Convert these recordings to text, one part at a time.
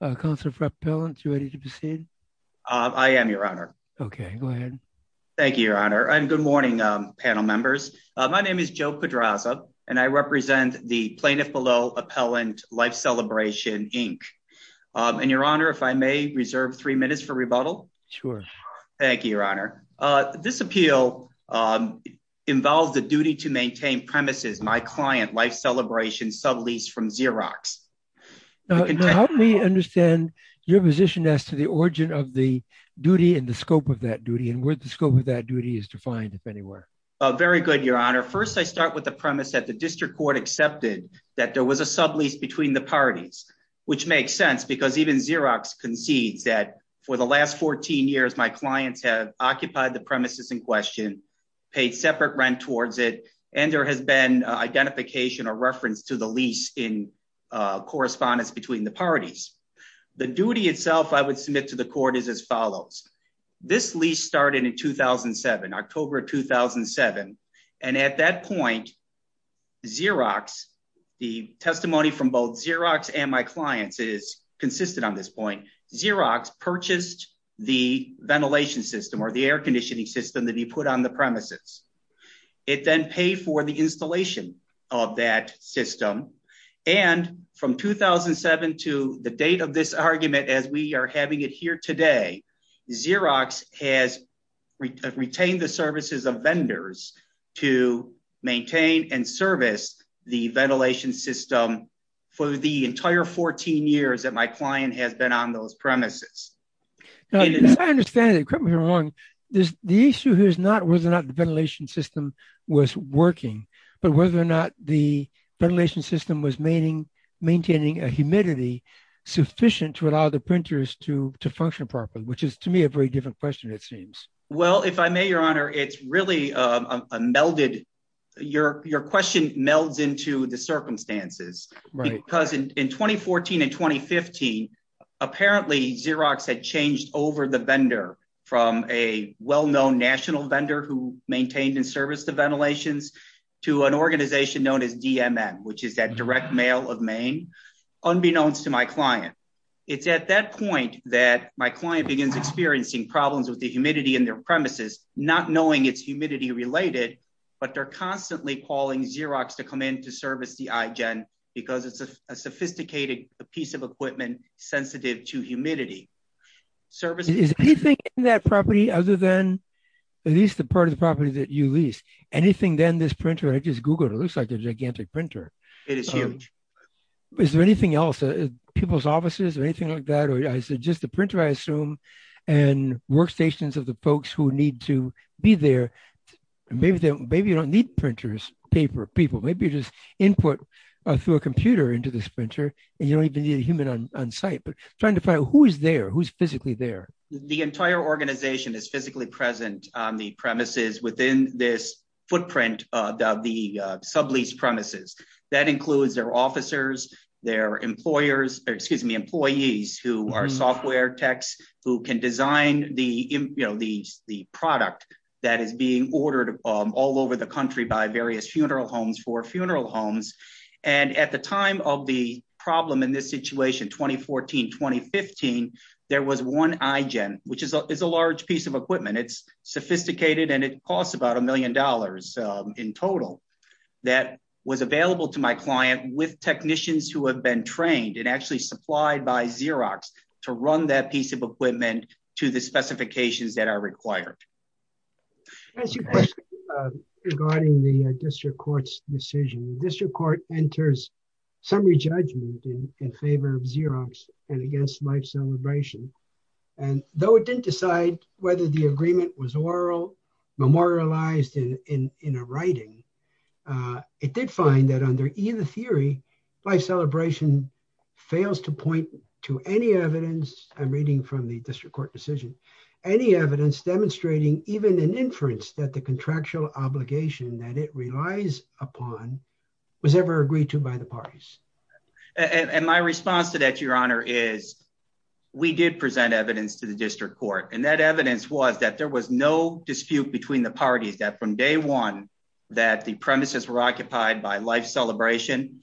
Councilor for Appellants, are you ready to proceed? I am, Your Honor. Okay, go ahead. Thank you, Your Honor. And good morning, panel members. My name is Joe Pedraza, and I represent the Plaintiff Below Appellant Life Celebration Inc. And Your Honor, if I may reserve three minutes for rebuttal. Sure. Thank you, Your Honor. This appeal involves the duty to maintain premises, my client, Life Celebration sub-lease from Xerox. Now, how do we understand your position as to the origin of the duty and the scope of that duty, and where the scope of that duty is defined, if anywhere? Very good, Your Honor. First, I start with the premise that the district court accepted that there was a sub-lease between the parties, which makes sense because even Xerox concedes that for the last 14 years, my clients have occupied the premises in question, paid separate rent towards it, and there has been identification or reference to the lease in correspondence between the parties. The duty itself I would submit to the court is as follows. This lease started in 2007, October, 2007. And at that point, Xerox, the testimony from both Xerox and my clients is consistent on this point. Xerox purchased the ventilation system or the air conditioning system that he put on the premises. It then paid for the installation of that system. And from 2007 to the date of this argument, as we are having it here today, Xerox has retained the services of vendors to maintain and service the ventilation system for the entire 14 years that my client has been on those premises. Now, as I understand it, equipment, Your Honor, the issue here is not whether or not the ventilation system was working, but whether or not the ventilation system was maintaining a humidity sufficient to allow the printers to function properly, which is, to me, a very different question, it seems. Well, if I may, Your Honor, it's really a melded, your question melds into the circumstances. Right. Because in 2014 and 2015, apparently Xerox had changed over the vendor from a well-known national vendor who maintained and serviced the ventilations to an organization known as DMN, which is that direct mail of Maine, unbeknownst to my client. It's at that point that my client begins experiencing problems with the humidity in their premises, not knowing it's humidity related, but they're constantly calling Xerox to come in to service the iGen because it's a sophisticated piece of equipment sensitive to humidity. Services- Is anything in that property other than, at least the part of the property that you lease, anything then this printer, I just Googled, it looks like a gigantic printer. It is huge. Is there anything else, people's offices or anything like that? Or is it just the printer, I assume, and workstations of the folks who need to be there? Maybe you don't need printers, paper, people, maybe you just input through a computer into this printer and you don't even need a human on site, but trying to find out who is there, who's physically there. The entire organization is physically present on the premises within this footprint of the subleased premises. That includes their officers, their employers, or excuse me, employees who are software techs who can design the product that is being ordered all over the country by various funeral homes for funeral homes. And at the time of the problem in this situation, 2014, 2015, there was one iGen, which is a large piece of equipment. It's sophisticated and it costs about a million dollars in total that was available to my client with technicians who have been trained and actually supplied by Xerox to run that piece of equipment to the specifications that are required. As you question regarding the district court's decision, district court enters summary judgment in favor of Xerox and against Life Celebration. And though it didn't decide whether the agreement was oral, memorialized in a writing, it did find that under either theory, Life Celebration fails to point to any evidence, I'm reading from the district court decision, any evidence demonstrating even an inference that the contractual obligation that it relies upon was ever agreed to by the parties. And my response to that, your honor, is we did present evidence to the district court. And that evidence was that there was no dispute between the parties that from day one that the premises were occupied by Life Celebration,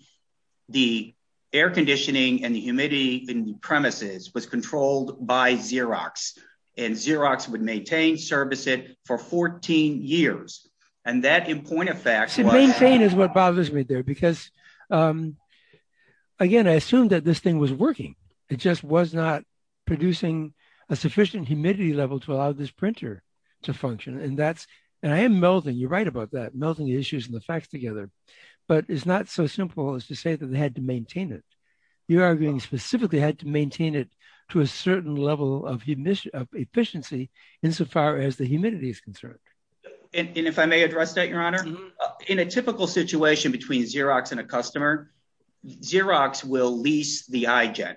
the air conditioning and the humidity in the premises was controlled by Xerox. And Xerox would maintain, service it for 14 years. And that in point of fact- That's what bothers me there, because again, I assumed that this thing was working. It just was not producing a sufficient humidity level to allow this printer to function. And that's, and I am melding, you're right about that, melting the issues and the facts together, but it's not so simple as to say that they had to maintain it. You're arguing specifically had to maintain it to a certain level of efficiency insofar as the humidity is concerned. And if I may address that, your honor, in a typical situation between Xerox and a customer, Xerox will lease the iGen.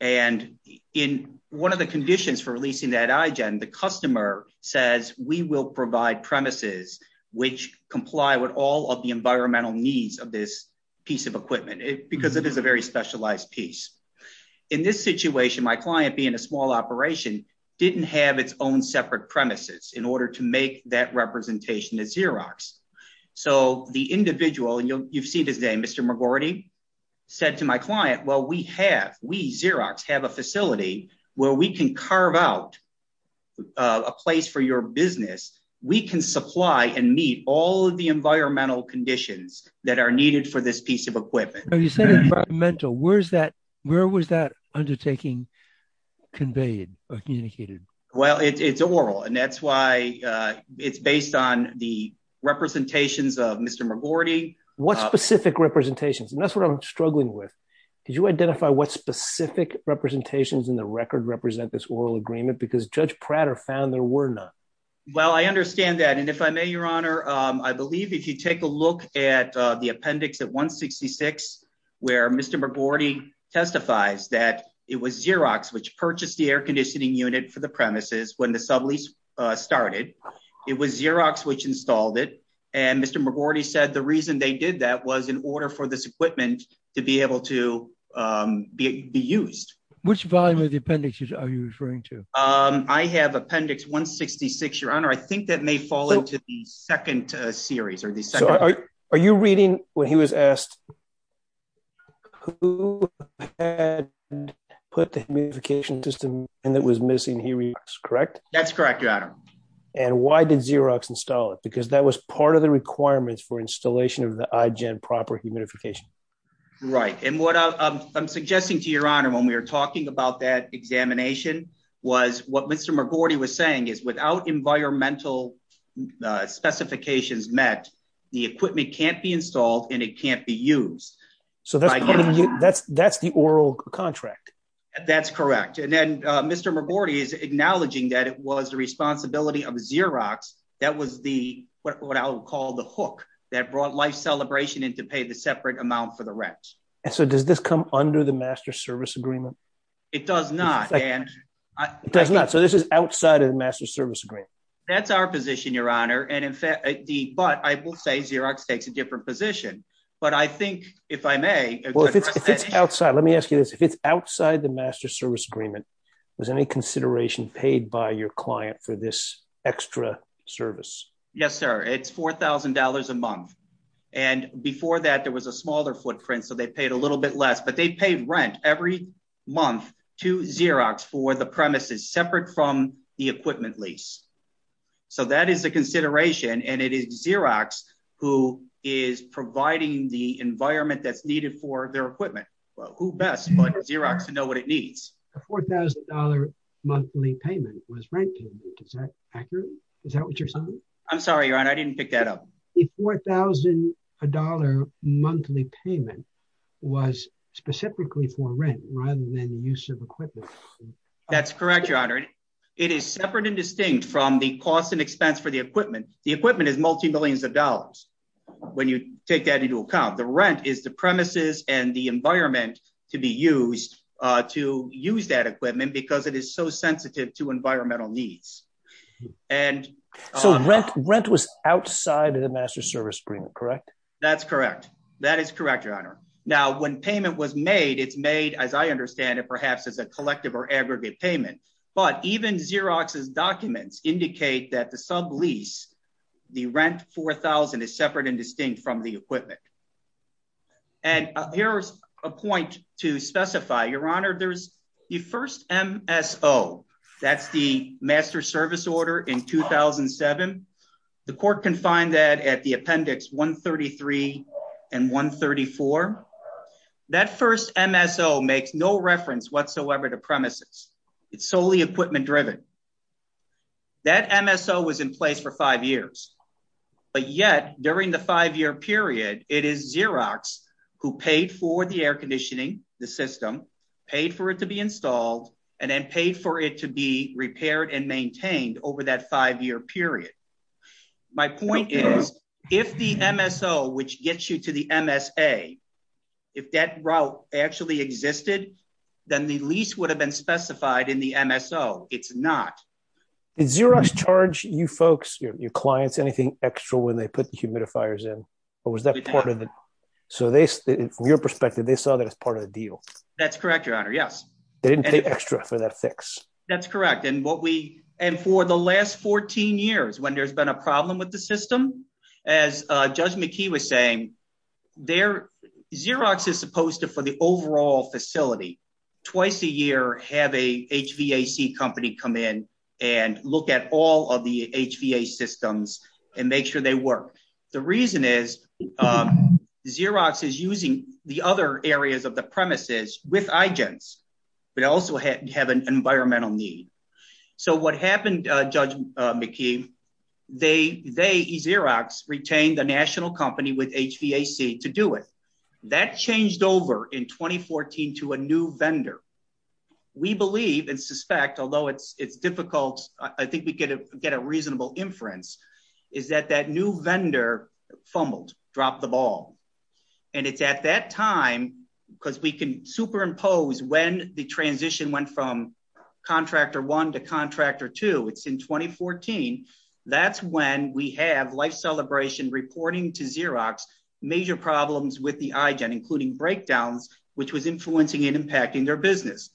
And in one of the conditions for leasing that iGen, the customer says, we will provide premises which comply with all of the environmental needs of this piece of equipment, because it is a very specialized piece. In this situation, my client being a small operation didn't have its own separate premises in order to make that representation at Xerox. So the individual, and you've seen his name, Mr. McGordy, said to my client, well, we have, we Xerox have a facility where we can carve out a place for your business. We can supply and meet all of the environmental conditions that are needed for this piece of equipment. Now you said environmental, where was that undertaking conveyed or communicated? Well, it's oral. And that's why it's based on the representations of Mr. McGordy. What specific representations? And that's what I'm struggling with. Could you identify what specific representations in the record represent this oral agreement? Because Judge Prater found there were none. Well, I understand that. And if I may, your honor, I believe if you take a look at the appendix at 166, where Mr. McGordy testifies that it was Xerox which purchased the air conditioning unit for the premises when the sublease started, it was Xerox which installed it. And Mr. McGordy said the reason they did that was in order for this equipment to be able to be used. Which volume of the appendix are you referring to? I have appendix 166, your honor. I think that may fall into the second series or the second. Are you reading when he was asked who had put the humidification system and that was missing here, correct? That's correct, your honor. And why did Xerox install it? Because that was part of the requirements for installation of the iGen proper humidification. Right, and what I'm suggesting to your honor when we were talking about that examination was what Mr. McGordy was saying is without environmental specifications met, the equipment can't be installed and it can't be used. So that's the oral contract. That's correct. And then Mr. McGordy is acknowledging that it was the responsibility of Xerox that was what I would call the hook that brought life celebration into pay the separate amount for the rent. And so does this come under the master service agreement? It does not. It does not. So this is outside of the master service agreement. That's our position, your honor. And in fact, but I will say Xerox takes a different position. But I think if I may- Well, if it's outside, let me ask you this. If it's outside the master service agreement, was any consideration paid by your client for this extra service? Yes, sir. It's $4,000 a month. And before that, there was a smaller footprint. So they paid a little bit less, but they paid rent every month to Xerox for the premises separate from the equipment lease. So that is a consideration. And it is Xerox who is providing the environment that's needed for their equipment. Well, who best but Xerox to know what it needs? A $4,000 monthly payment was rented. Is that accurate? Is that what you're saying? I'm sorry, your honor. I didn't pick that up. The $4,000 monthly payment was specifically for rent rather than use of equipment. That's correct, your honor. It is separate and distinct from the cost and expense for the equipment. The equipment is multi-millions of dollars. When you take that into account, the rent is the premises and the environment to be used to use that equipment because it is so sensitive to environmental needs. And- So rent was outside of the master service agreement, correct? That's correct. That is correct, your honor. Now, when payment was made, it's made, as I understand it, perhaps as a collective or aggregate payment. But even Xerox's documents indicate that the sub-lease, the rent $4,000 is separate and distinct from the equipment. And here's a point to specify. Your honor, there's the first MSO. That's the master service order in 2007. The court can find that at the appendix 133 and 134. That first MSO makes no reference whatsoever to premises. It's solely equipment driven. That MSO was in place for five years, but yet during the five-year period, it is Xerox who paid for the air conditioning, the system, paid for it to be installed, and then paid for it to be repaired and maintained over that five-year period. My point is, if the MSO, which gets you to the MSA, if that route actually existed, then the lease would have been specified in the MSO. It's not. Did Xerox charge you folks, your clients, anything extra when they put the humidifiers in? Or was that part of it? So they, from your perspective, they saw that as part of the deal. That's correct, your honor, yes. They didn't pay extra for that fix. That's correct. And for the last 14 years, when there's been a problem with the system, as Judge McKee was saying, Xerox is supposed to, for the overall facility, twice a year have a HVAC company come in and look at all of the HVAC systems and make sure they work. The reason is, Xerox is using the other areas of the premises with IGENTS, but also have an environmental need. So what happened, Judge McKee, they, Xerox, retained the national company with HVAC to do it. That changed over in 2014 to a new vendor. We believe and suspect, although it's difficult, I think we get a reasonable inference, is that that new vendor fumbled, dropped the ball. And it's at that time, because we can superimpose when the transition went from contractor one to contractor two, it's in 2014. That's when we have Life Celebration reporting to Xerox major problems with the IGENT, including breakdowns, which was influencing and impacting their business.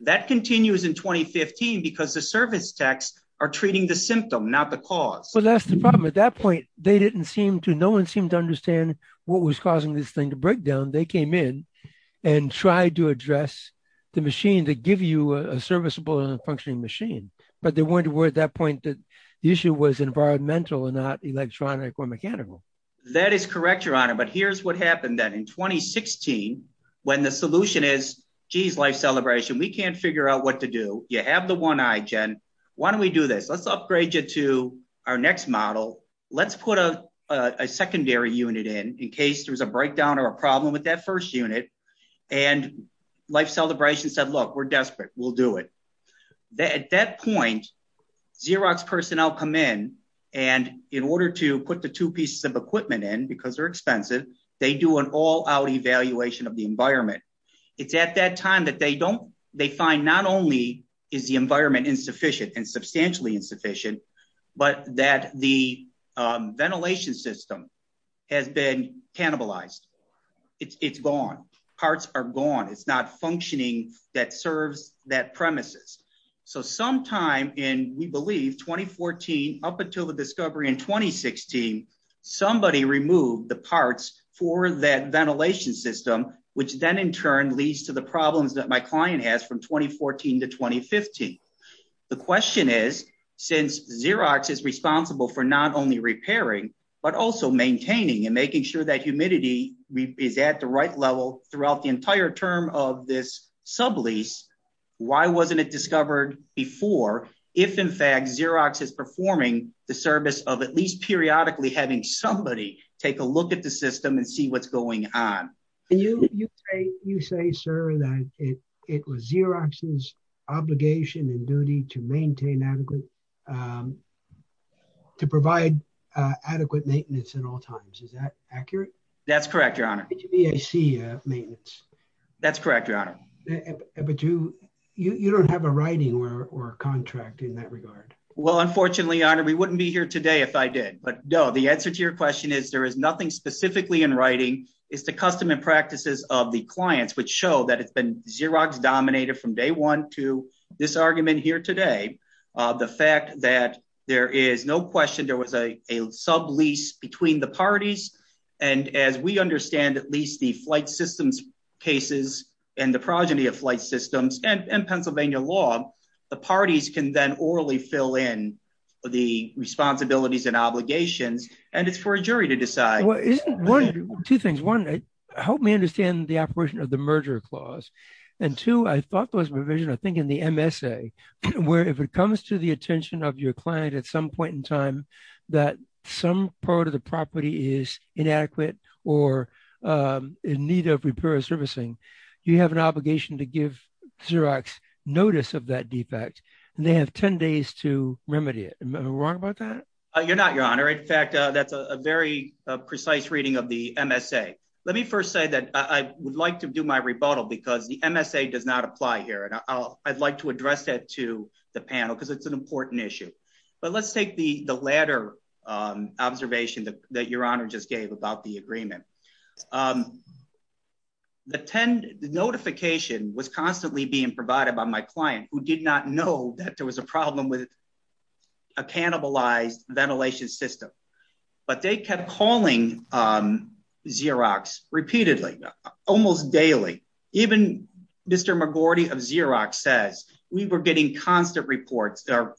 That continues in 2015, because the service techs are treating the symptom, not the cause. Well, that's the problem. At that point, they didn't seem to, no one seemed to understand what was causing this thing to break down. They came in and tried to address the machine that give you a serviceable and a functioning machine. But they weren't aware at that point that the issue was environmental and not electronic or mechanical. That is correct, Your Honor. But here's what happened then in 2016, when the solution is, geez, Life Celebration, we can't figure out what to do. You have the one IGENT. Why don't we do this? Let's upgrade you to our next model. Let's put a secondary unit in, in case there was a breakdown or a problem with that first unit. And Life Celebration said, look, we're desperate. We'll do it. At that point, Xerox personnel come in, and in order to put the two pieces of equipment in, because they're expensive, they do an all out evaluation of the environment. It's at that time that they don't, they find not only is the environment insufficient and substantially insufficient, but that the ventilation system has been cannibalized. It's gone. Parts are gone. It's not functioning that serves that premises. So sometime in, we believe, 2014, up until the discovery in 2016, somebody removed the parts for that ventilation system, which then in turn leads to the problems that my client has from 2014 to 2015. The question is, since Xerox is responsible for not only repairing, but also maintaining and making sure that humidity is at the right level throughout the entire term of this sublease, why wasn't it discovered before, if in fact Xerox is performing the service of at least periodically having somebody take a look at the system and see what's going on? And you say, sir, that it was Xerox's obligation and duty to maintain adequate, to provide adequate maintenance at all times. Is that accurate? That's correct, your honor. Did you VAC maintenance? That's correct, your honor. But you don't have a writing or a contract in that regard. Well, unfortunately, your honor, we wouldn't be here today if I did, but no, the answer to your question is there is nothing specifically in writing. It's the custom and practices of the clients which show that it's been Xerox dominated from day one to this argument here today. The fact that there is no question there was a sublease between the parties. And as we understand at least the flight systems cases and the progeny of flight systems and Pennsylvania law, the parties can then orally fill in the responsibilities and obligations and it's for a jury to decide. Two things, one, help me understand the operation of the merger clause. And two, I thought there was provision, I think in the MSA, where if it comes to the attention of your client at some point in time, that some part of the property is inadequate or in need of repair or servicing, you have an obligation to give Xerox notice of that defect and they have 10 days to remedy it. Am I wrong about that? You're not, your honor. In fact, that's a very precise reading of the MSA. Let me first say that I would like to do my rebuttal because the MSA does not apply here. And I'd like to address that to the panel because it's an important issue. But let's take the latter observation that your honor just gave about the agreement. The 10, the notification was constantly being provided by my client who did not know that there was a problem with a cannibalized ventilation system. But they kept calling Xerox repeatedly, almost daily. Even Mr. McGordy of Xerox says, we were getting constant reports, their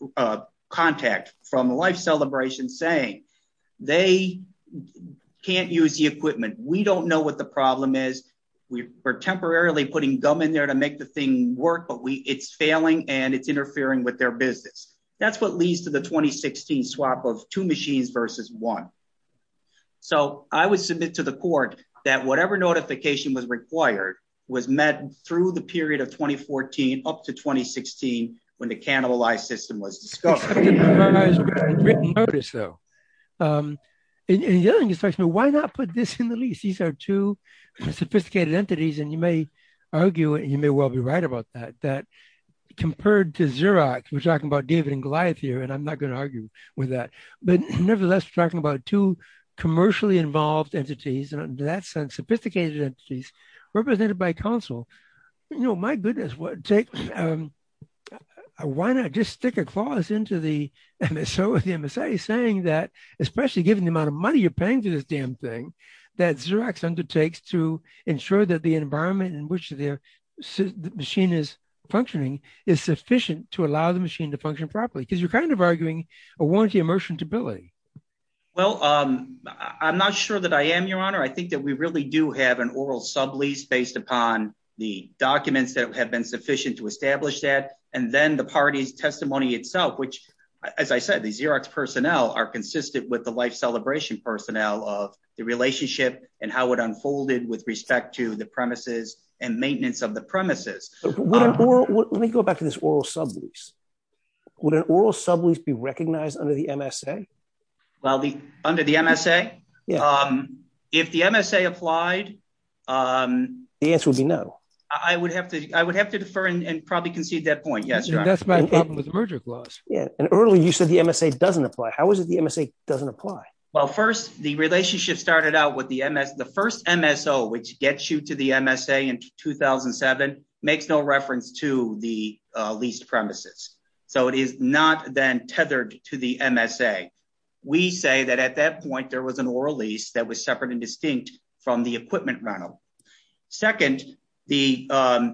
contact from life celebration saying, they can't use the equipment. We don't know what the problem is. We were temporarily putting gum in there to make the thing work, but it's failing and it's interfering with their business. That's what leads to the 2016 swap of two machines versus one. So I would submit to the court that whatever notification was required was met through the period of 2014 up to 2016 when the cannibalized system was discovered. I just have to give my eyes a written notice though. In the other instruction, why not put this in the lease? These are two sophisticated entities and you may argue and you may well be right about that, that compared to Xerox, we're talking about David and Goliath here and I'm not gonna argue with that. But nevertheless, we're talking about two commercially involved entities and in that sense, sophisticated entities represented by counsel. You know, my goodness, why not just stick a clause into the MSO or the MSA saying that, especially given the amount of money you're paying to this damn thing that Xerox undertakes to ensure that the environment in which the machine is functioning is sufficient to allow the machine to function properly? Because you're kind of arguing a warranty of merchantability. Well, I'm not sure that I am, Your Honor. I think that we really do have an oral sublease based upon the documents that have been sufficient to establish that and then the party's testimony itself, as I said, the Xerox personnel are consistent with the life celebration personnel of the relationship and how it unfolded with respect to the premises and maintenance of the premises. Let me go back to this oral sublease. Would an oral sublease be recognized under the MSA? Well, under the MSA? If the MSA applied? The answer would be no. I would have to defer and probably concede that point. Yes, Your Honor. That's my problem with the merger clause. Yeah, and earlier you said the MSA doesn't apply. How is it the MSA doesn't apply? Well, first, the relationship started out with the MS, the first MSO, which gets you to the MSA in 2007, makes no reference to the leased premises. So it is not then tethered to the MSA. We say that at that point, there was an oral lease that was separate and distinct from the equipment rental. Second, while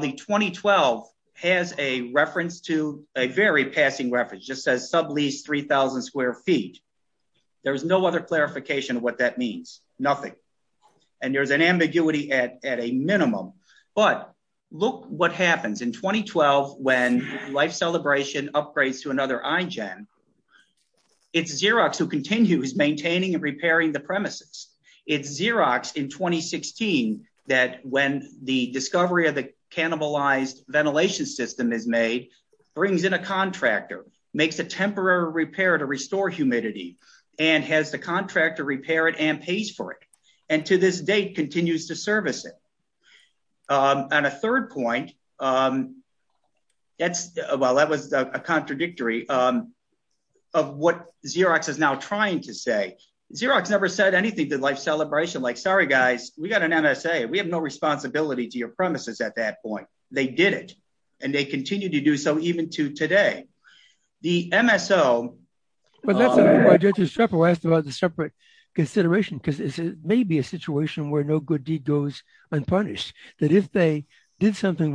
the 2012 has a reference to a very passing reference, just says sublease 3,000 square feet. There was no other clarification of what that means. Nothing. And there's an ambiguity at a minimum. But look what happens in 2012 when life celebration upgrades to another I-gen. It's Xerox who continues maintaining and repairing the premises. It's Xerox in 2016 that when the discovery of the cannibalized ventilation system is made, brings in a contractor, makes a temporary repair to restore humidity, and has the contractor repair it and pays for it. And to this date continues to service it. And a third point, that's, well, that was a contradictory of what Xerox is now trying to say. Xerox never said anything to life celebration, like, sorry, guys, we got an MSA. We have no responsibility to your premises at that point. They did it. And they continue to do so even to today. The MSO- But that's why Judge Estrepo asked about the separate consideration, because it may be a situation where no good deed goes unpunished. That if they did something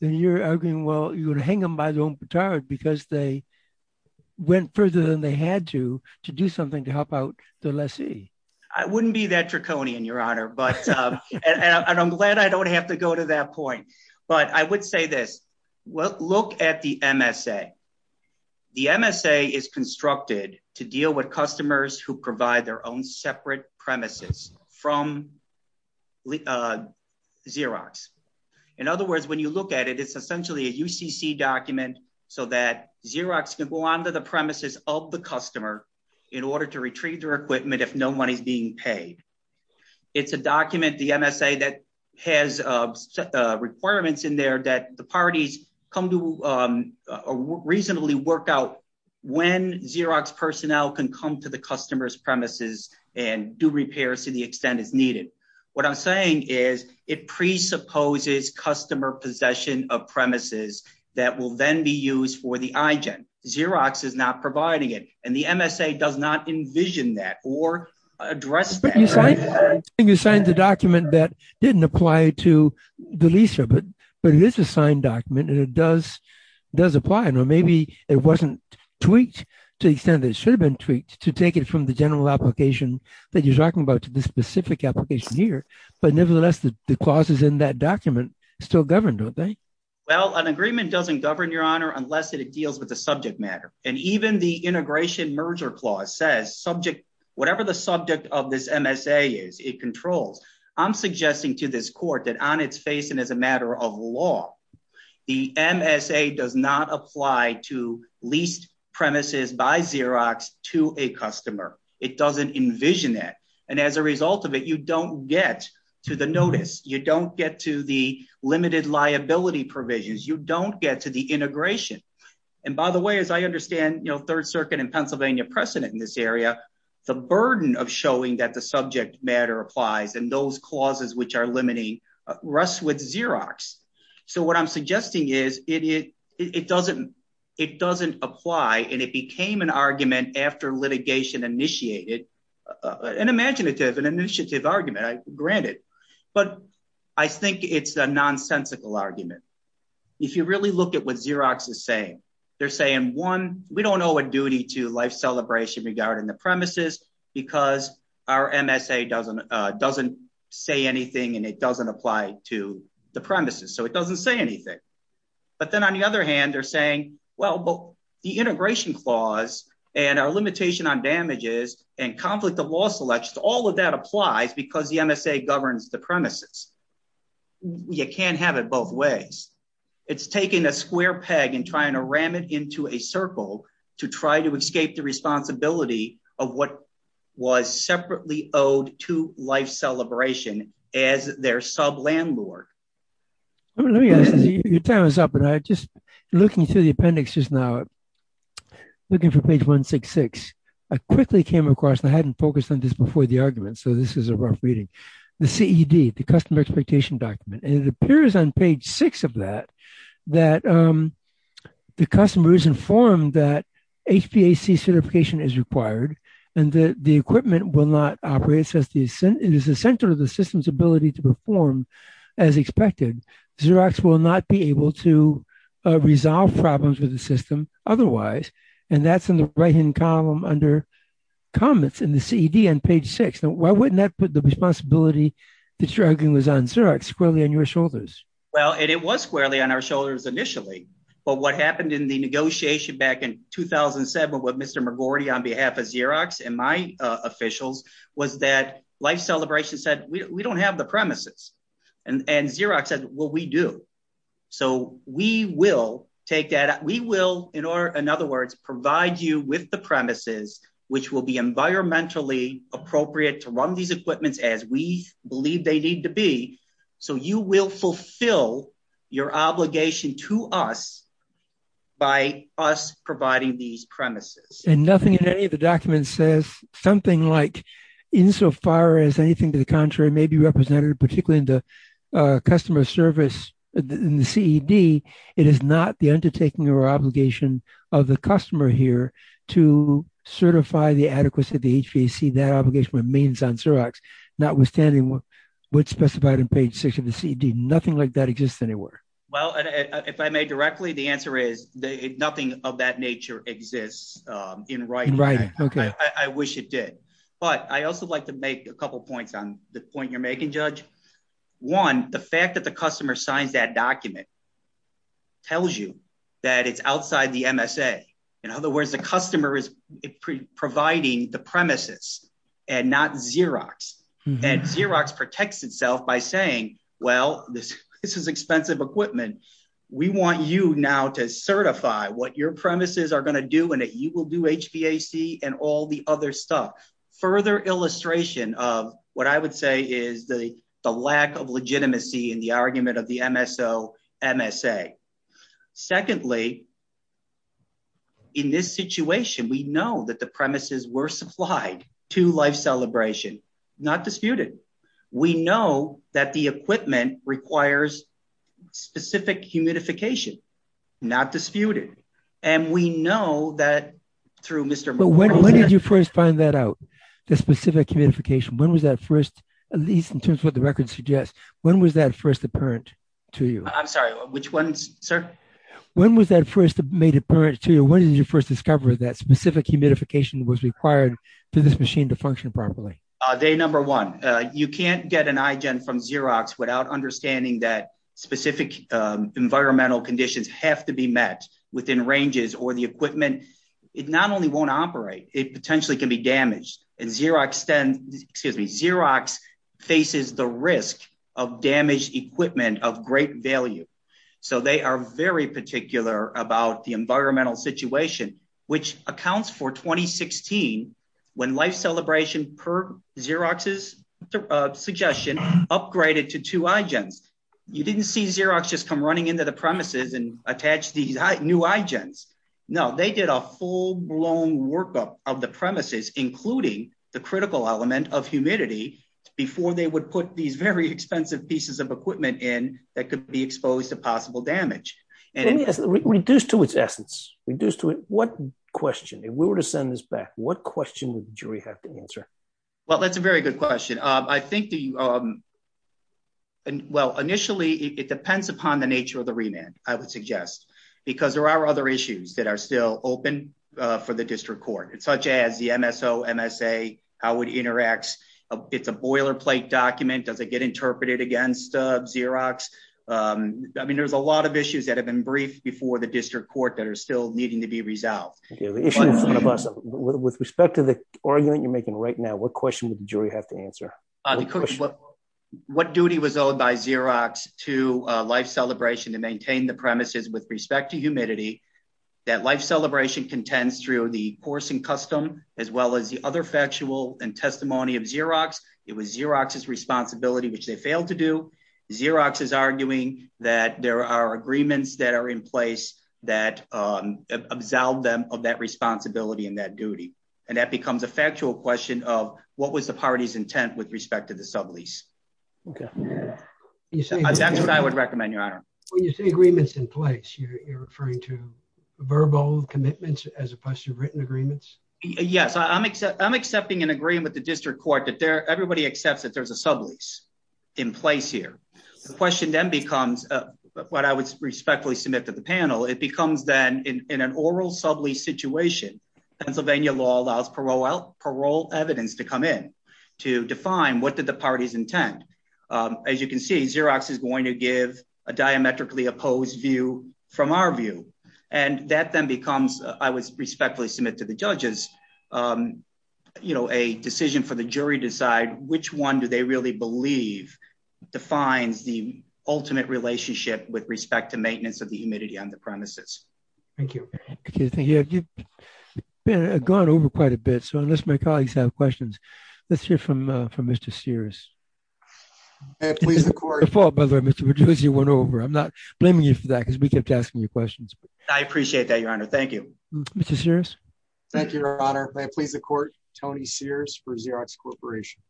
then you're arguing, well, you would hang them by their own batard because they went further than they had to to do something to help out the lessee. I wouldn't be that draconian, Your Honor, but, and I'm glad I don't have to go to that point. But I would say this. Well, look at the MSA. The MSA is constructed to deal with customers who provide their own separate premises from Xerox. In other words, when you look at it, it's essentially a UCC document. So that Xerox can go onto the premises of the customer in order to retrieve their equipment if no money is being paid. It's a document, the MSA, that has requirements in there that the parties come to reasonably work out when Xerox personnel can come to the customer's premises and do repairs to the extent as needed. What I'm saying is it presupposes customer possession of premises that will then be used for the IGEN. Xerox is not providing it, and the MSA does not envision that or address that. But you signed the document that didn't apply to the lessee, but it is a signed document and it does apply. I know maybe it wasn't tweaked to the extent that it should have been tweaked to take it from the general application that you're talking about to the specific application here, but nevertheless, the clauses in that document still govern, don't they? Well, an agreement doesn't govern, Your Honor, unless it deals with a subject matter. And even the integration merger clause says whatever the subject of this MSA is, it controls. I'm suggesting to this court that on its face and as a matter of law, the MSA does not apply to leased premises by Xerox to a customer. It doesn't envision that. And as a result of it, you don't get to the notice. You don't get to the limited liability provisions. You don't get to the integration. And by the way, as I understand, Third Circuit and Pennsylvania precedent in this area, the burden of showing that the subject matter applies and those clauses which are limiting rest with Xerox. So what I'm suggesting is it doesn't apply and it became an argument after litigation initiated, an imaginative and initiative argument, granted. But I think it's a nonsensical argument. If you really look at what Xerox is saying, they're saying, one, we don't owe a duty to life celebration regarding the premises because our MSA doesn't say anything and it doesn't apply to the premises. So it doesn't say anything. But then on the other hand, they're saying, well, but the integration clause and our limitation on damages and conflict of law selections, all of that applies because the MSA governs the premises. You can't have it both ways. It's taking a square peg and trying to ram it into a circle to try to escape the responsibility of what was separately owed to life celebration as their sub landlord. Let me ask you, your time is up and I just looking through the appendix just now, looking for page 166. I quickly came across, I hadn't focused on this before the argument. So this is a rough reading. The CED, the customer expectation document. And it appears on page six of that, that the customers informed that HPAC certification is required and that the equipment will not operate since it is essential to the system's ability to perform as expected. Xerox will not be able to resolve problems with the system otherwise. And that's in the right hand column under comments in the CED on page six. And why wouldn't that put the responsibility that you're arguing was on Xerox squarely on your shoulders? Well, it was squarely on our shoulders initially, but what happened in the negotiation back in 2007 with Mr. McGordy on behalf of Xerox and my officials was that life celebration said, we don't have the premises. And Xerox said, well, we do. So we will take that. We will, in other words, provide you with the premises which will be environmentally appropriate to run these equipments as we believe they need to be. So you will fulfill your obligation to us by us providing these premises. And nothing in any of the documents says something like insofar as anything to the contrary may be represented, particularly in the customer service in the CED, it is not the undertaking or obligation of the customer here to certify the adequacy of the HVAC. That obligation remains on Xerox, notwithstanding what's specified in page six of the CED. Nothing like that exists anywhere. Well, if I may directly, the answer is nothing of that nature exists in writing. In writing, okay. I wish it did. But I also would like to make a couple of points on the point you're making, Judge. One, the fact that the customer signs that document tells you that it's outside the MSA. In other words, the customer is providing the premises and not Xerox. And Xerox protects itself by saying, well, this is expensive equipment. We want you now to certify what your premises are gonna do and that you will do HVAC and all the other stuff. Further illustration of what I would say is the lack of legitimacy in the argument of the MSO and MSA. Secondly, in this situation, we know that the premises were supplied to Life Celebration, not disputed. We know that the equipment requires specific humidification, not disputed. And we know that through Mr.- But when did you first find that out, the specific humidification? When was that first, at least in terms of what the record suggests, when was that first apparent to you? I'm sorry, which one, sir? When was that first made apparent to you? When did you first discover that specific humidification was required for this machine to function properly? Day number one. You can't get an iGen from Xerox without understanding that specific environmental conditions have to be met within ranges or the equipment. It not only won't operate, it potentially can be damaged. And Xerox faces the risk of damaged equipment of great value. So they are very particular about the environmental situation, which accounts for 2016, when Life Celebration, per Xerox's suggestion, upgraded to two iGens. You didn't see Xerox just come running into the premises and attach these new iGens. No, they did a full-blown workup of the premises, including the critical element of humidity, before they would put these very expensive pieces of equipment in that could be exposed to possible damage. And- Reduce to its essence. Reduce to it. What question, if we were to send this back, what question would the jury have to answer? Well, that's a very good question. I think the, well, initially, it depends upon the nature of the remand, I would suggest, because there are other issues that are still open for the district court, such as the MSO, MSA, how it interacts. It's a boilerplate document. Does it get interpreted against Xerox? I mean, there's a lot of issues that have been briefed before the district court that are still needing to be resolved. Yeah, the issue in front of us, with respect to the argument you're making right now, what question would the jury have to answer? What question? What duty was owed by Xerox to Life Celebration to maintain the premises with respect to humidity that Life Celebration contends through the course and custom as well as the other factual and testimony of Xerox? It was Xerox's responsibility, which they failed to do. Xerox is arguing that there are agreements that are in place that absolve them of that responsibility and that duty. And that becomes a factual question of what was the party's intent with respect to the sublease? Okay. That's what I would recommend, Your Honor. When you say agreements in place, you're referring to verbal commitments as opposed to written agreements? Yes, I'm accepting an agreement with the district court that everybody accepts that there's a sublease in place here. The question then becomes, what I would respectfully submit to the panel, it becomes then in an oral sublease situation, Pennsylvania law allows parole evidence to come in to define what did the parties intend. As you can see, Xerox is going to give a diametrically opposed view from our view. And that then becomes, I would respectfully submit to the judges, a decision for the jury to decide which one do they really believe defines the ultimate relationship with respect to maintenance of the humidity on the premises. Thank you. Okay, thank you. You've gone over quite a bit, so unless my colleagues have questions, let's hear from Mr. Sears. May I please, the court- Before, by the way, Mr. Pagliuzzi went over. I'm not blaming you for that because we kept asking you questions. I appreciate that, Your Honor. Thank you. Mr. Sears? Thank you, Your Honor. May I please the court, Tony Sears for Xerox Corporation.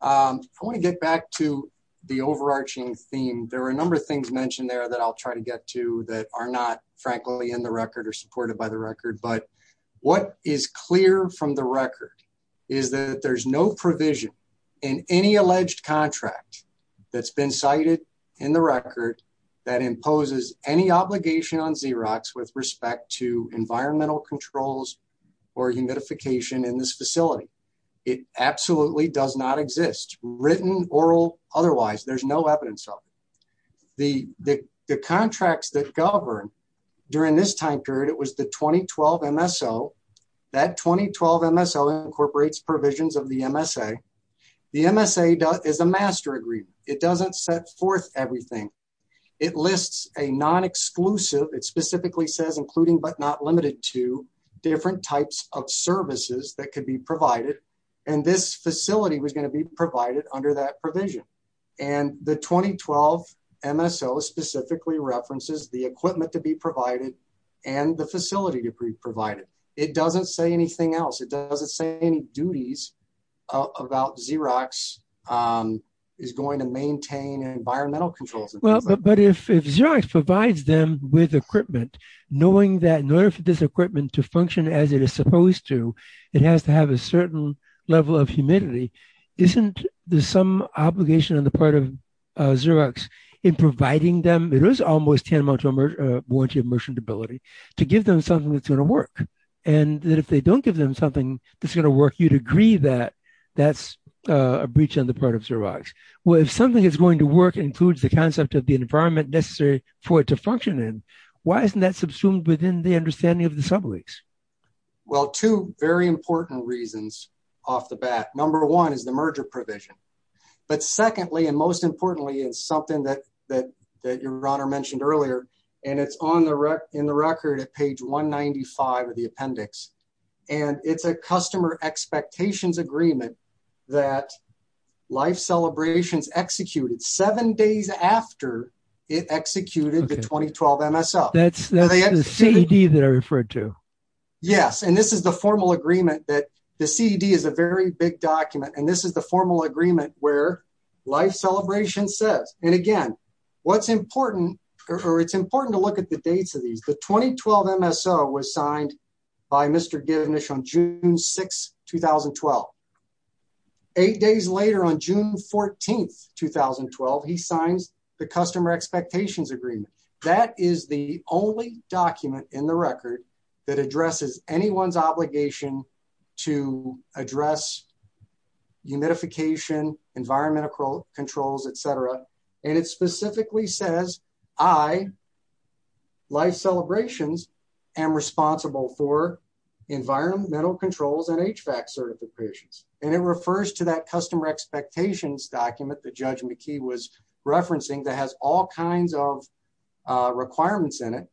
I wanna get back to the overarching theme. There are a number of things mentioned there that I'll try to get to that are not, frankly, in the record or supported by the record. But what is clear from the record is that there's no provision in any alleged contract that's been cited in the record that imposes any obligation on Xerox with respect to environmental controls or humidification in this facility. It absolutely does not exist, written, oral, otherwise. There's no evidence of it. The contracts that govern during this time period, it was the 2012 MSO. That 2012 MSO incorporates provisions of the MSA. The MSA is a master agreement. It doesn't set forth everything. It lists a non-exclusive, it specifically says including but not limited to, different types of services that could be provided. And this facility was gonna be provided under that provision. And the 2012 MSO specifically references the equipment to be provided and the facility to be provided. It doesn't say anything else. It doesn't say any duties about Xerox is going to maintain environmental controls. Well, but if Xerox provides them with equipment, knowing that in order for this equipment to function as it is supposed to, it has to have a certain level of humidity, isn't there some obligation on the part of Xerox in providing them, it is almost tantamount to a warranty of merchantability, to give them something that's gonna work. And that if they don't give them something that's gonna work, you'd agree that that's a breach on the part of Xerox. Well, if something is going to work and Xerox includes the concept of the environment necessary for it to function in, why isn't that subsumed within the understanding of the sublease? Well, two very important reasons off the bat. Number one is the merger provision. But secondly, and most importantly, is something that your honor mentioned earlier, and it's in the record at page 195 of the appendix. And it's a customer expectations agreement that Life Celebrations executed seven days after it executed the 2012 MSO. That's the CED that I referred to. Yes, and this is the formal agreement that the CED is a very big document. And this is the formal agreement where Life Celebrations says, and again, what's important, or it's important to look at the dates of these. The 2012 MSO was signed by Mr. Givnish on June 6, 2012. Eight days later on June 14, 2012, he signs the customer expectations agreement. That is the only document in the record that addresses anyone's obligation to address humidification, environmental controls, et cetera. And it specifically says, I, Life Celebrations, am responsible for environmental controls and HVAC certifications. And it refers to that customer expectations document that Judge McKee was referencing that has all kinds of requirements in it.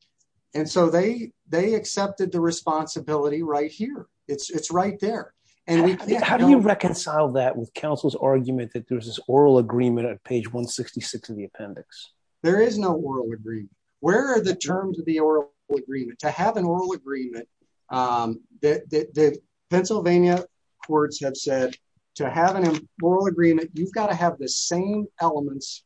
And so they accepted the responsibility right here. It's right there. How do you reconcile that with counsel's argument that there was this oral agreement at page 166 of the appendix? There is no oral agreement. Where are the terms of the oral agreement? To have an oral agreement, the Pennsylvania courts have said, to have an oral agreement, you've got to have the same elements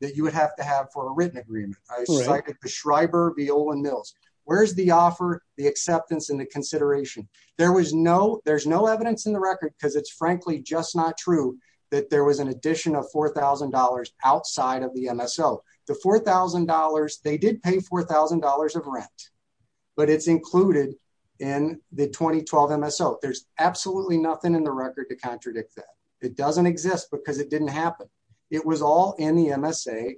that you would have to have for a written agreement. I cited the Schreiber v. Olin Mills. Where's the offer, the acceptance, and the consideration? There was no, there's no evidence in the record because it's frankly just not true that there was an addition of $4,000 outside of the MSO. The $4,000, they did pay $4,000 of rent, but it's included in the 2012 MSO. There's absolutely nothing in the record to contradict that. It doesn't exist because it didn't happen. It was all in the MSA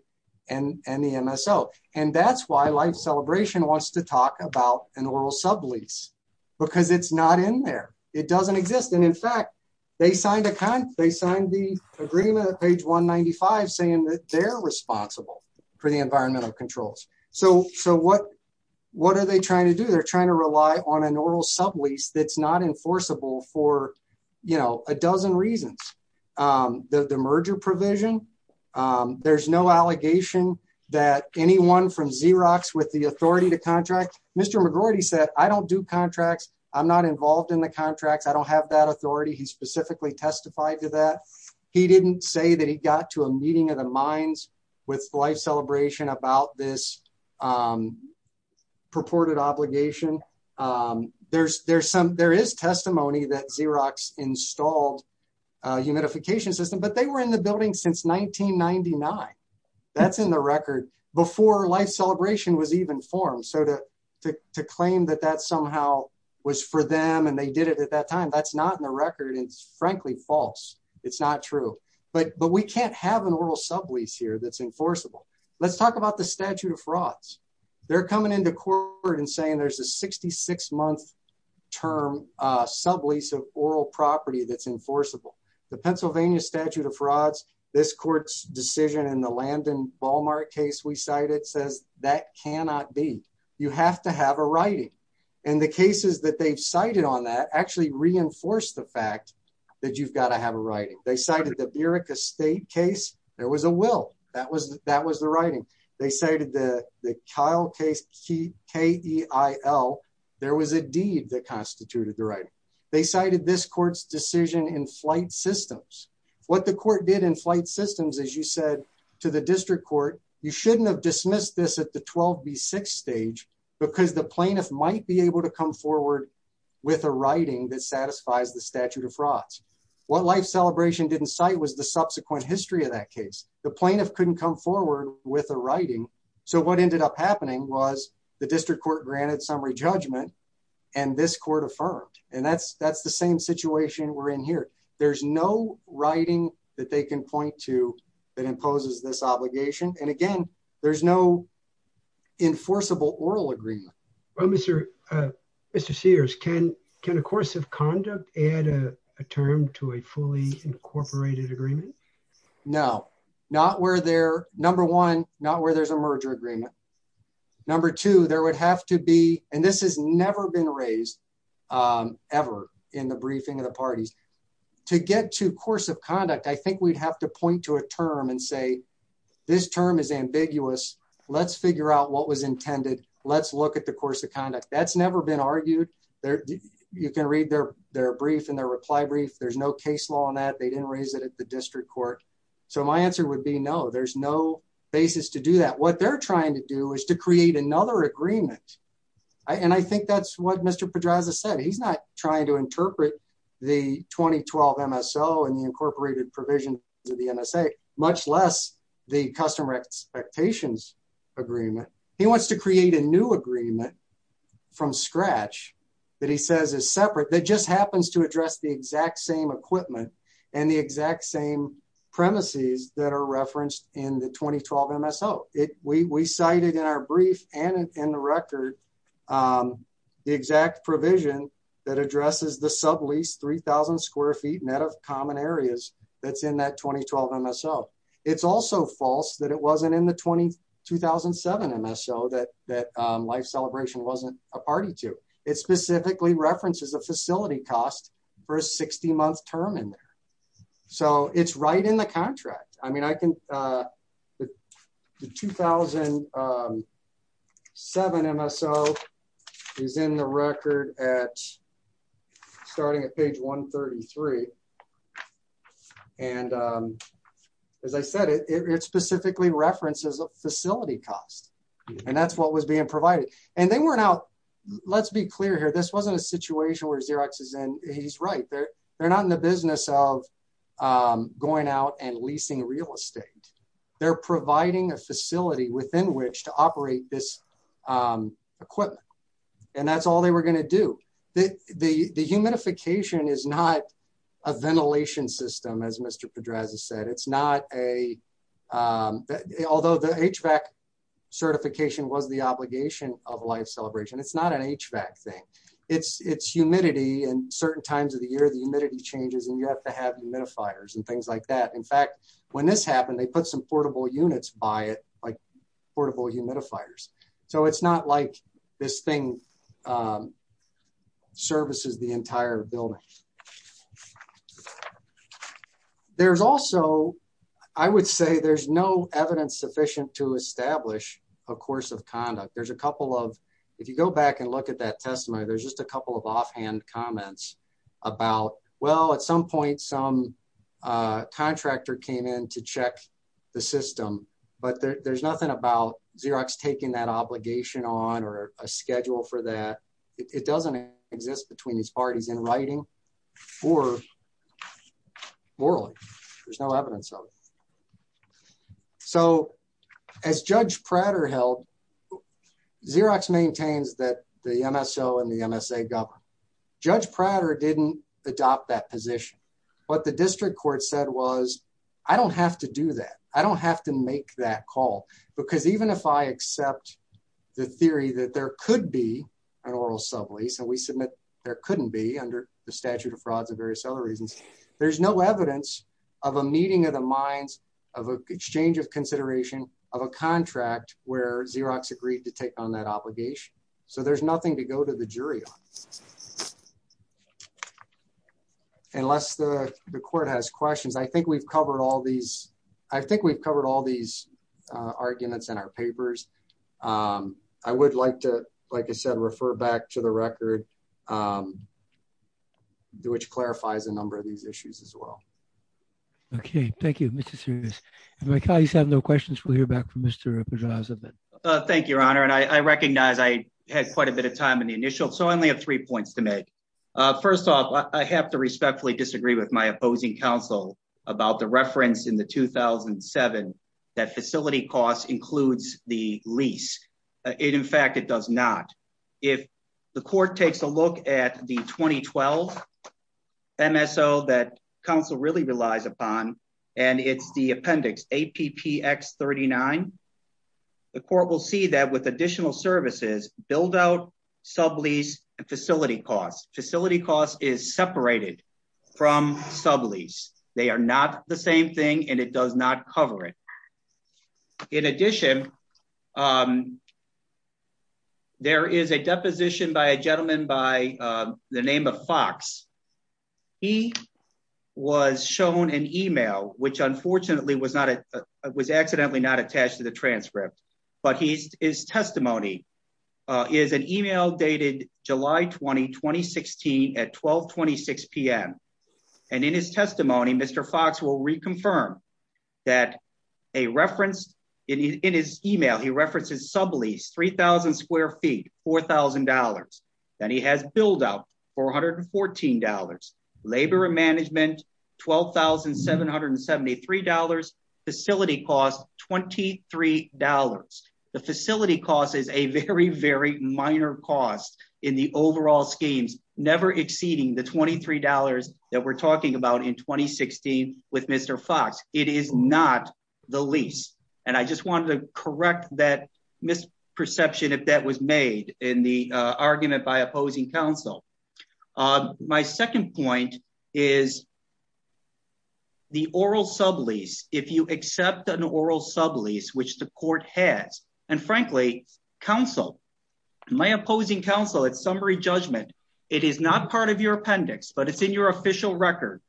and the MSO. And that's why Life Celebration wants to talk about an oral sublease because it's not in there. It doesn't exist. And in fact, they signed the agreement at page 195 saying that they're responsible for the environmental controls. So what are they trying to do? They're trying to rely on an oral sublease that's not enforceable for a dozen reasons. The merger provision, there's no allegation that anyone from Xerox with the authority to contract. Mr. McGroarty said, I don't do contracts. I'm not involved in the contracts. I don't have that authority. He specifically testified to that. He didn't say that he got to a meeting of the minds with Life Celebration about this purported obligation. There is testimony that Xerox installed a humidification system, but they were in the building since 1999. That's in the record before Life Celebration was even formed. So to claim that that somehow was for them and they did it at that time, that's not in the record. It's frankly false. It's not true. But we can't have an oral sublease here that's enforceable. Let's talk about the statute of frauds. They're coming into court and saying there's a 66-month term sublease of oral property that's enforceable. The Pennsylvania statute of frauds, this court's decision in the Landon-Ballmark case we cited says that cannot be. You have to have a writing. And the cases that they've cited on that actually reinforce the fact that you've got to have a writing. They cited the Birka State case. There was a will. That was the writing. They cited the Kyle case, K-E-I-L. There was a deed that constituted the writing. They cited this court's decision in flight systems. What the court did in flight systems, as you said to the district court, you shouldn't have dismissed this at the 12B6 stage because the plaintiff might be able to come forward with a writing that satisfies the statute of frauds. What Life Celebration didn't cite was the subsequent history of that case. The plaintiff couldn't come forward with a writing. So what ended up happening was the district court granted summary judgment and this court affirmed. And that's the same situation we're in here. There's no writing that they can point to that imposes this obligation. And again, there's no enforceable oral agreement. Well, Mr. Sears, can a course of conduct add a term to a fully incorporated agreement? No, not where they're, number one, not where there's a merger agreement. Number two, there would have to be, and this has never been raised ever in the briefing of the parties. To get to course of conduct, I think we'd have to point to a term and say, this term is ambiguous. Let's figure out what was intended. Let's look at the course of conduct. That's never been argued there. You can read their brief and their reply brief. There's no case law on that. They didn't raise it at the district court. So my answer would be no, there's no basis to do that. What they're trying to do is to create another agreement. And I think that's what Mr. Pedraza said. He's not trying to interpret the 2012 MSO and the incorporated provision to the MSA, much less the customer expectations agreement. He wants to create a new agreement from scratch that he says is separate, that just happens to address the exact same equipment and the exact same premises that are referenced in the 2012 MSO. We cited in our brief and in the record, the exact provision that addresses the subleased 3000 square feet net of common areas that's in that 2012 MSO. It's also false that it wasn't in the 2007 MSO that life celebration wasn't a party to. It specifically references a facility cost for a 60 month term in there. So it's right in the contract. I mean, I can, the 2007 MSO is in the record at starting at page 133. And as I said, it specifically references a facility cost and that's what was being provided. And they weren't out, let's be clear here. This wasn't a situation where Xerox is in, he's right. They're not in the business of going out and leasing real estate. They're providing a facility within which to operate this equipment. And that's all they were gonna do. The humidification is not a ventilation system, as Mr. Pedraza said. It's not a, although the HVAC certification was the obligation of life celebration. It's not an HVAC thing. It's humidity and certain times of the year the humidity changes and you have to have humidifiers and things like that. In fact, when this happened, they put some portable units by it, like portable humidifiers. So it's not like this thing services the entire building. There's also, I would say there's no evidence sufficient to establish a course of conduct. There's a couple of, if you go back and look at that testimony, there's just a couple of offhand comments about, well, at some point some contractor came in to check the system, but there's nothing about Xerox taking that obligation on or a schedule for that. It doesn't exist between these parties in writing or morally, there's no evidence of it. So as Judge Prater held, Xerox maintains that the MSO and the MSA government. Judge Prater didn't adopt that position. What the district court said was, I don't have to do that. I don't have to make that call because even if I accept the theory that there could be an oral sublease, and we submit there couldn't be under the statute of frauds and various other reasons, there's no evidence of a meeting of the minds of a exchange of consideration of a contract where Xerox agreed to take on that obligation. So there's nothing to go to the jury on unless the court has questions. I think we've covered all these, I think we've covered all these arguments in our papers. I would like to, like I said, refer back to the record which clarifies a number of these issues as well. Okay, thank you, Mr. Sears. If my colleagues have no questions, we'll hear back from Mr. Pedraza. Thank you, Your Honor. And I recognize I had quite a bit of time in the initial. So I only have three points to make. First off, I have to respectfully disagree with my opposing counsel about the reference in the 2007 that facility costs includes the lease. It in fact, it does not. If the court takes a look at the 2012 MSO that counsel really relies upon, and it's the appendix APPX 39, the court will see that with additional services, build out sublease and facility costs. Facility costs is separated from sublease. They are not the same thing and it does not cover it. In addition, there is a deposition by a gentleman by the name of Fox. He was shown an email, which unfortunately was accidentally not attached to the transcript. But his testimony is an email dated July 20, 2016 at 1226 PM. And in his testimony, Mr. Fox will reconfirm that a reference in his email, he references sublease 3,000 square feet, $4,000. Then he has build out $414, labor and management $12,773, facility costs $23. The facility costs is a very, very minor cost in the overall schemes, never exceeding the $23 that we're talking about in 2016 with Mr. Fox. It is not the lease. And I just wanted to correct that misperception if that was made in the argument by opposing counsel. My second point is the oral sublease. If you accept an oral sublease, which the court has, and frankly, counsel, my opposing counsel at summary judgment, it is not part of your appendix, but it's in your official record.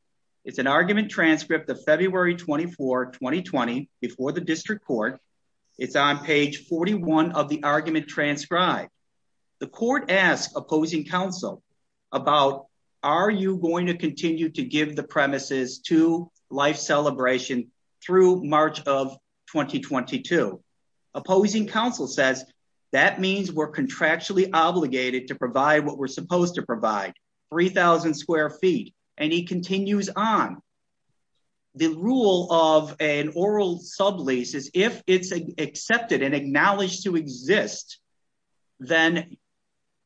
It's an argument transcript of February 24, 2020 before the district court. It's on page 41 of the argument transcribed. The court asked opposing counsel about, are you going to continue to give the premises to life celebration through March of 2022? Opposing counsel says, that means we're contractually obligated to provide what we're supposed to provide, 3,000 square feet. And he continues on. The rule of an oral sublease is if it's accepted and acknowledged to exist, then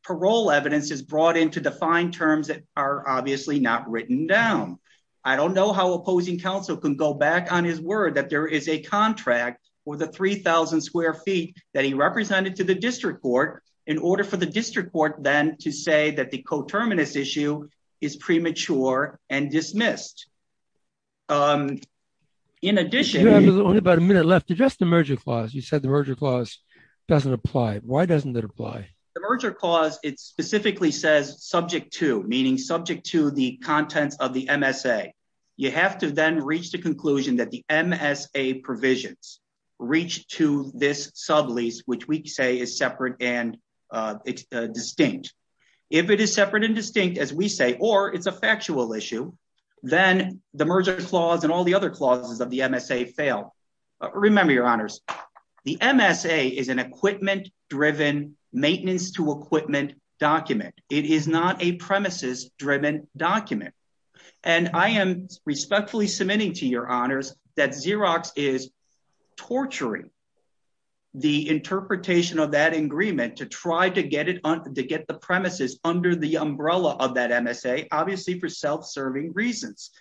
parole evidence is brought in to define terms that are obviously not written down. I don't know how opposing counsel can go back on his word that there is a contract for the 3,000 square feet that he represented to the district court in order for the district court then to say that the coterminous issue is premature and dismissed. In addition- You have only about a minute left to just the merger clause. You said the merger clause doesn't apply. Why doesn't that apply? The merger clause, it specifically says subject to, meaning subject to the contents of the MSA. You have to then reach the conclusion that the MSA provisions reach to this sublease, which we say is separate and distinct. If it is separate and distinct, as we say, or it's a factual issue, then the merger clause and all the other clauses of the MSA fail. Remember, your honors, the MSA is an equipment-driven, maintenance-to-equipment document. It is not a premises-driven document. And I am respectfully submitting to your honors that Xerox is torturing the interpretation of that agreement to try to get the premises under the umbrella of that MSA, obviously for self-serving reasons.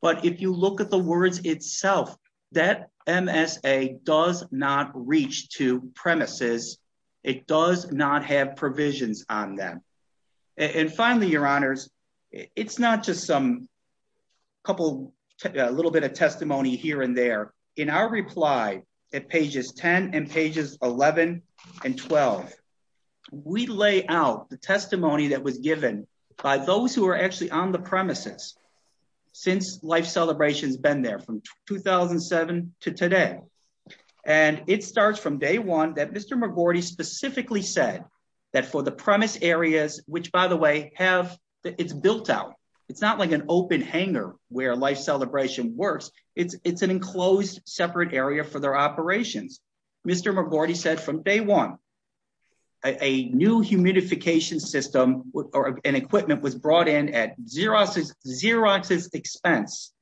But if you look at the words itself, that MSA does not reach to premises. It does not have provisions on them. And finally, your honors, it's not just a little bit of testimony here and there. In our reply at pages 10 and pages 11 and 12, we lay out the testimony that was given by those who are actually on the premises since Life Celebration's been there from 2007 to today. And it starts from day one that Mr. McGordy specifically said that for the premise areas, which by the way, it's built out. It's not like an open hangar where Life Celebration works. It's an enclosed separate area for their operations. Mr. McGordy said from day one, a new humidification system or an equipment was brought in at Xerox's expense,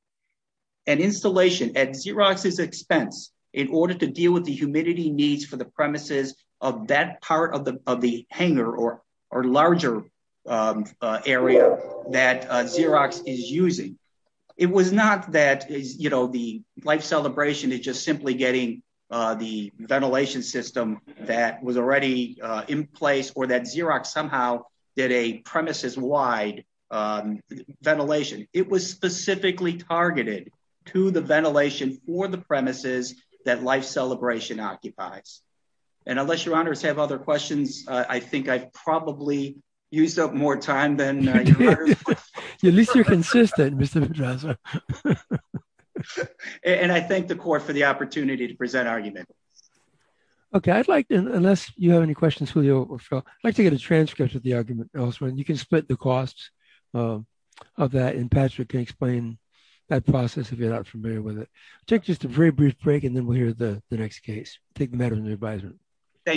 an installation at Xerox's expense in order to deal with the humidity needs for the premises of that part of the hangar or larger area that Xerox is using. It was not that the Life Celebration is just simply getting the ventilation system that was already in place or that Xerox somehow did a premises-wide ventilation. It was specifically targeted to the ventilation for the premises that Life Celebration occupies. And unless your honors have other questions, I think I've probably used up more time than I deserve. At least you're consistent, Mr. Pedraza. And I thank the court for the opportunity to present argument. Okay, I'd like to, unless you have any questions, Julio or Phil, I'd like to get a transcript of the argument elsewhere and you can split the costs of that and Patrick can explain that process if you're not familiar with it. Take just a very brief break and then we'll hear the next case. Take the matter under advisement. Thank you.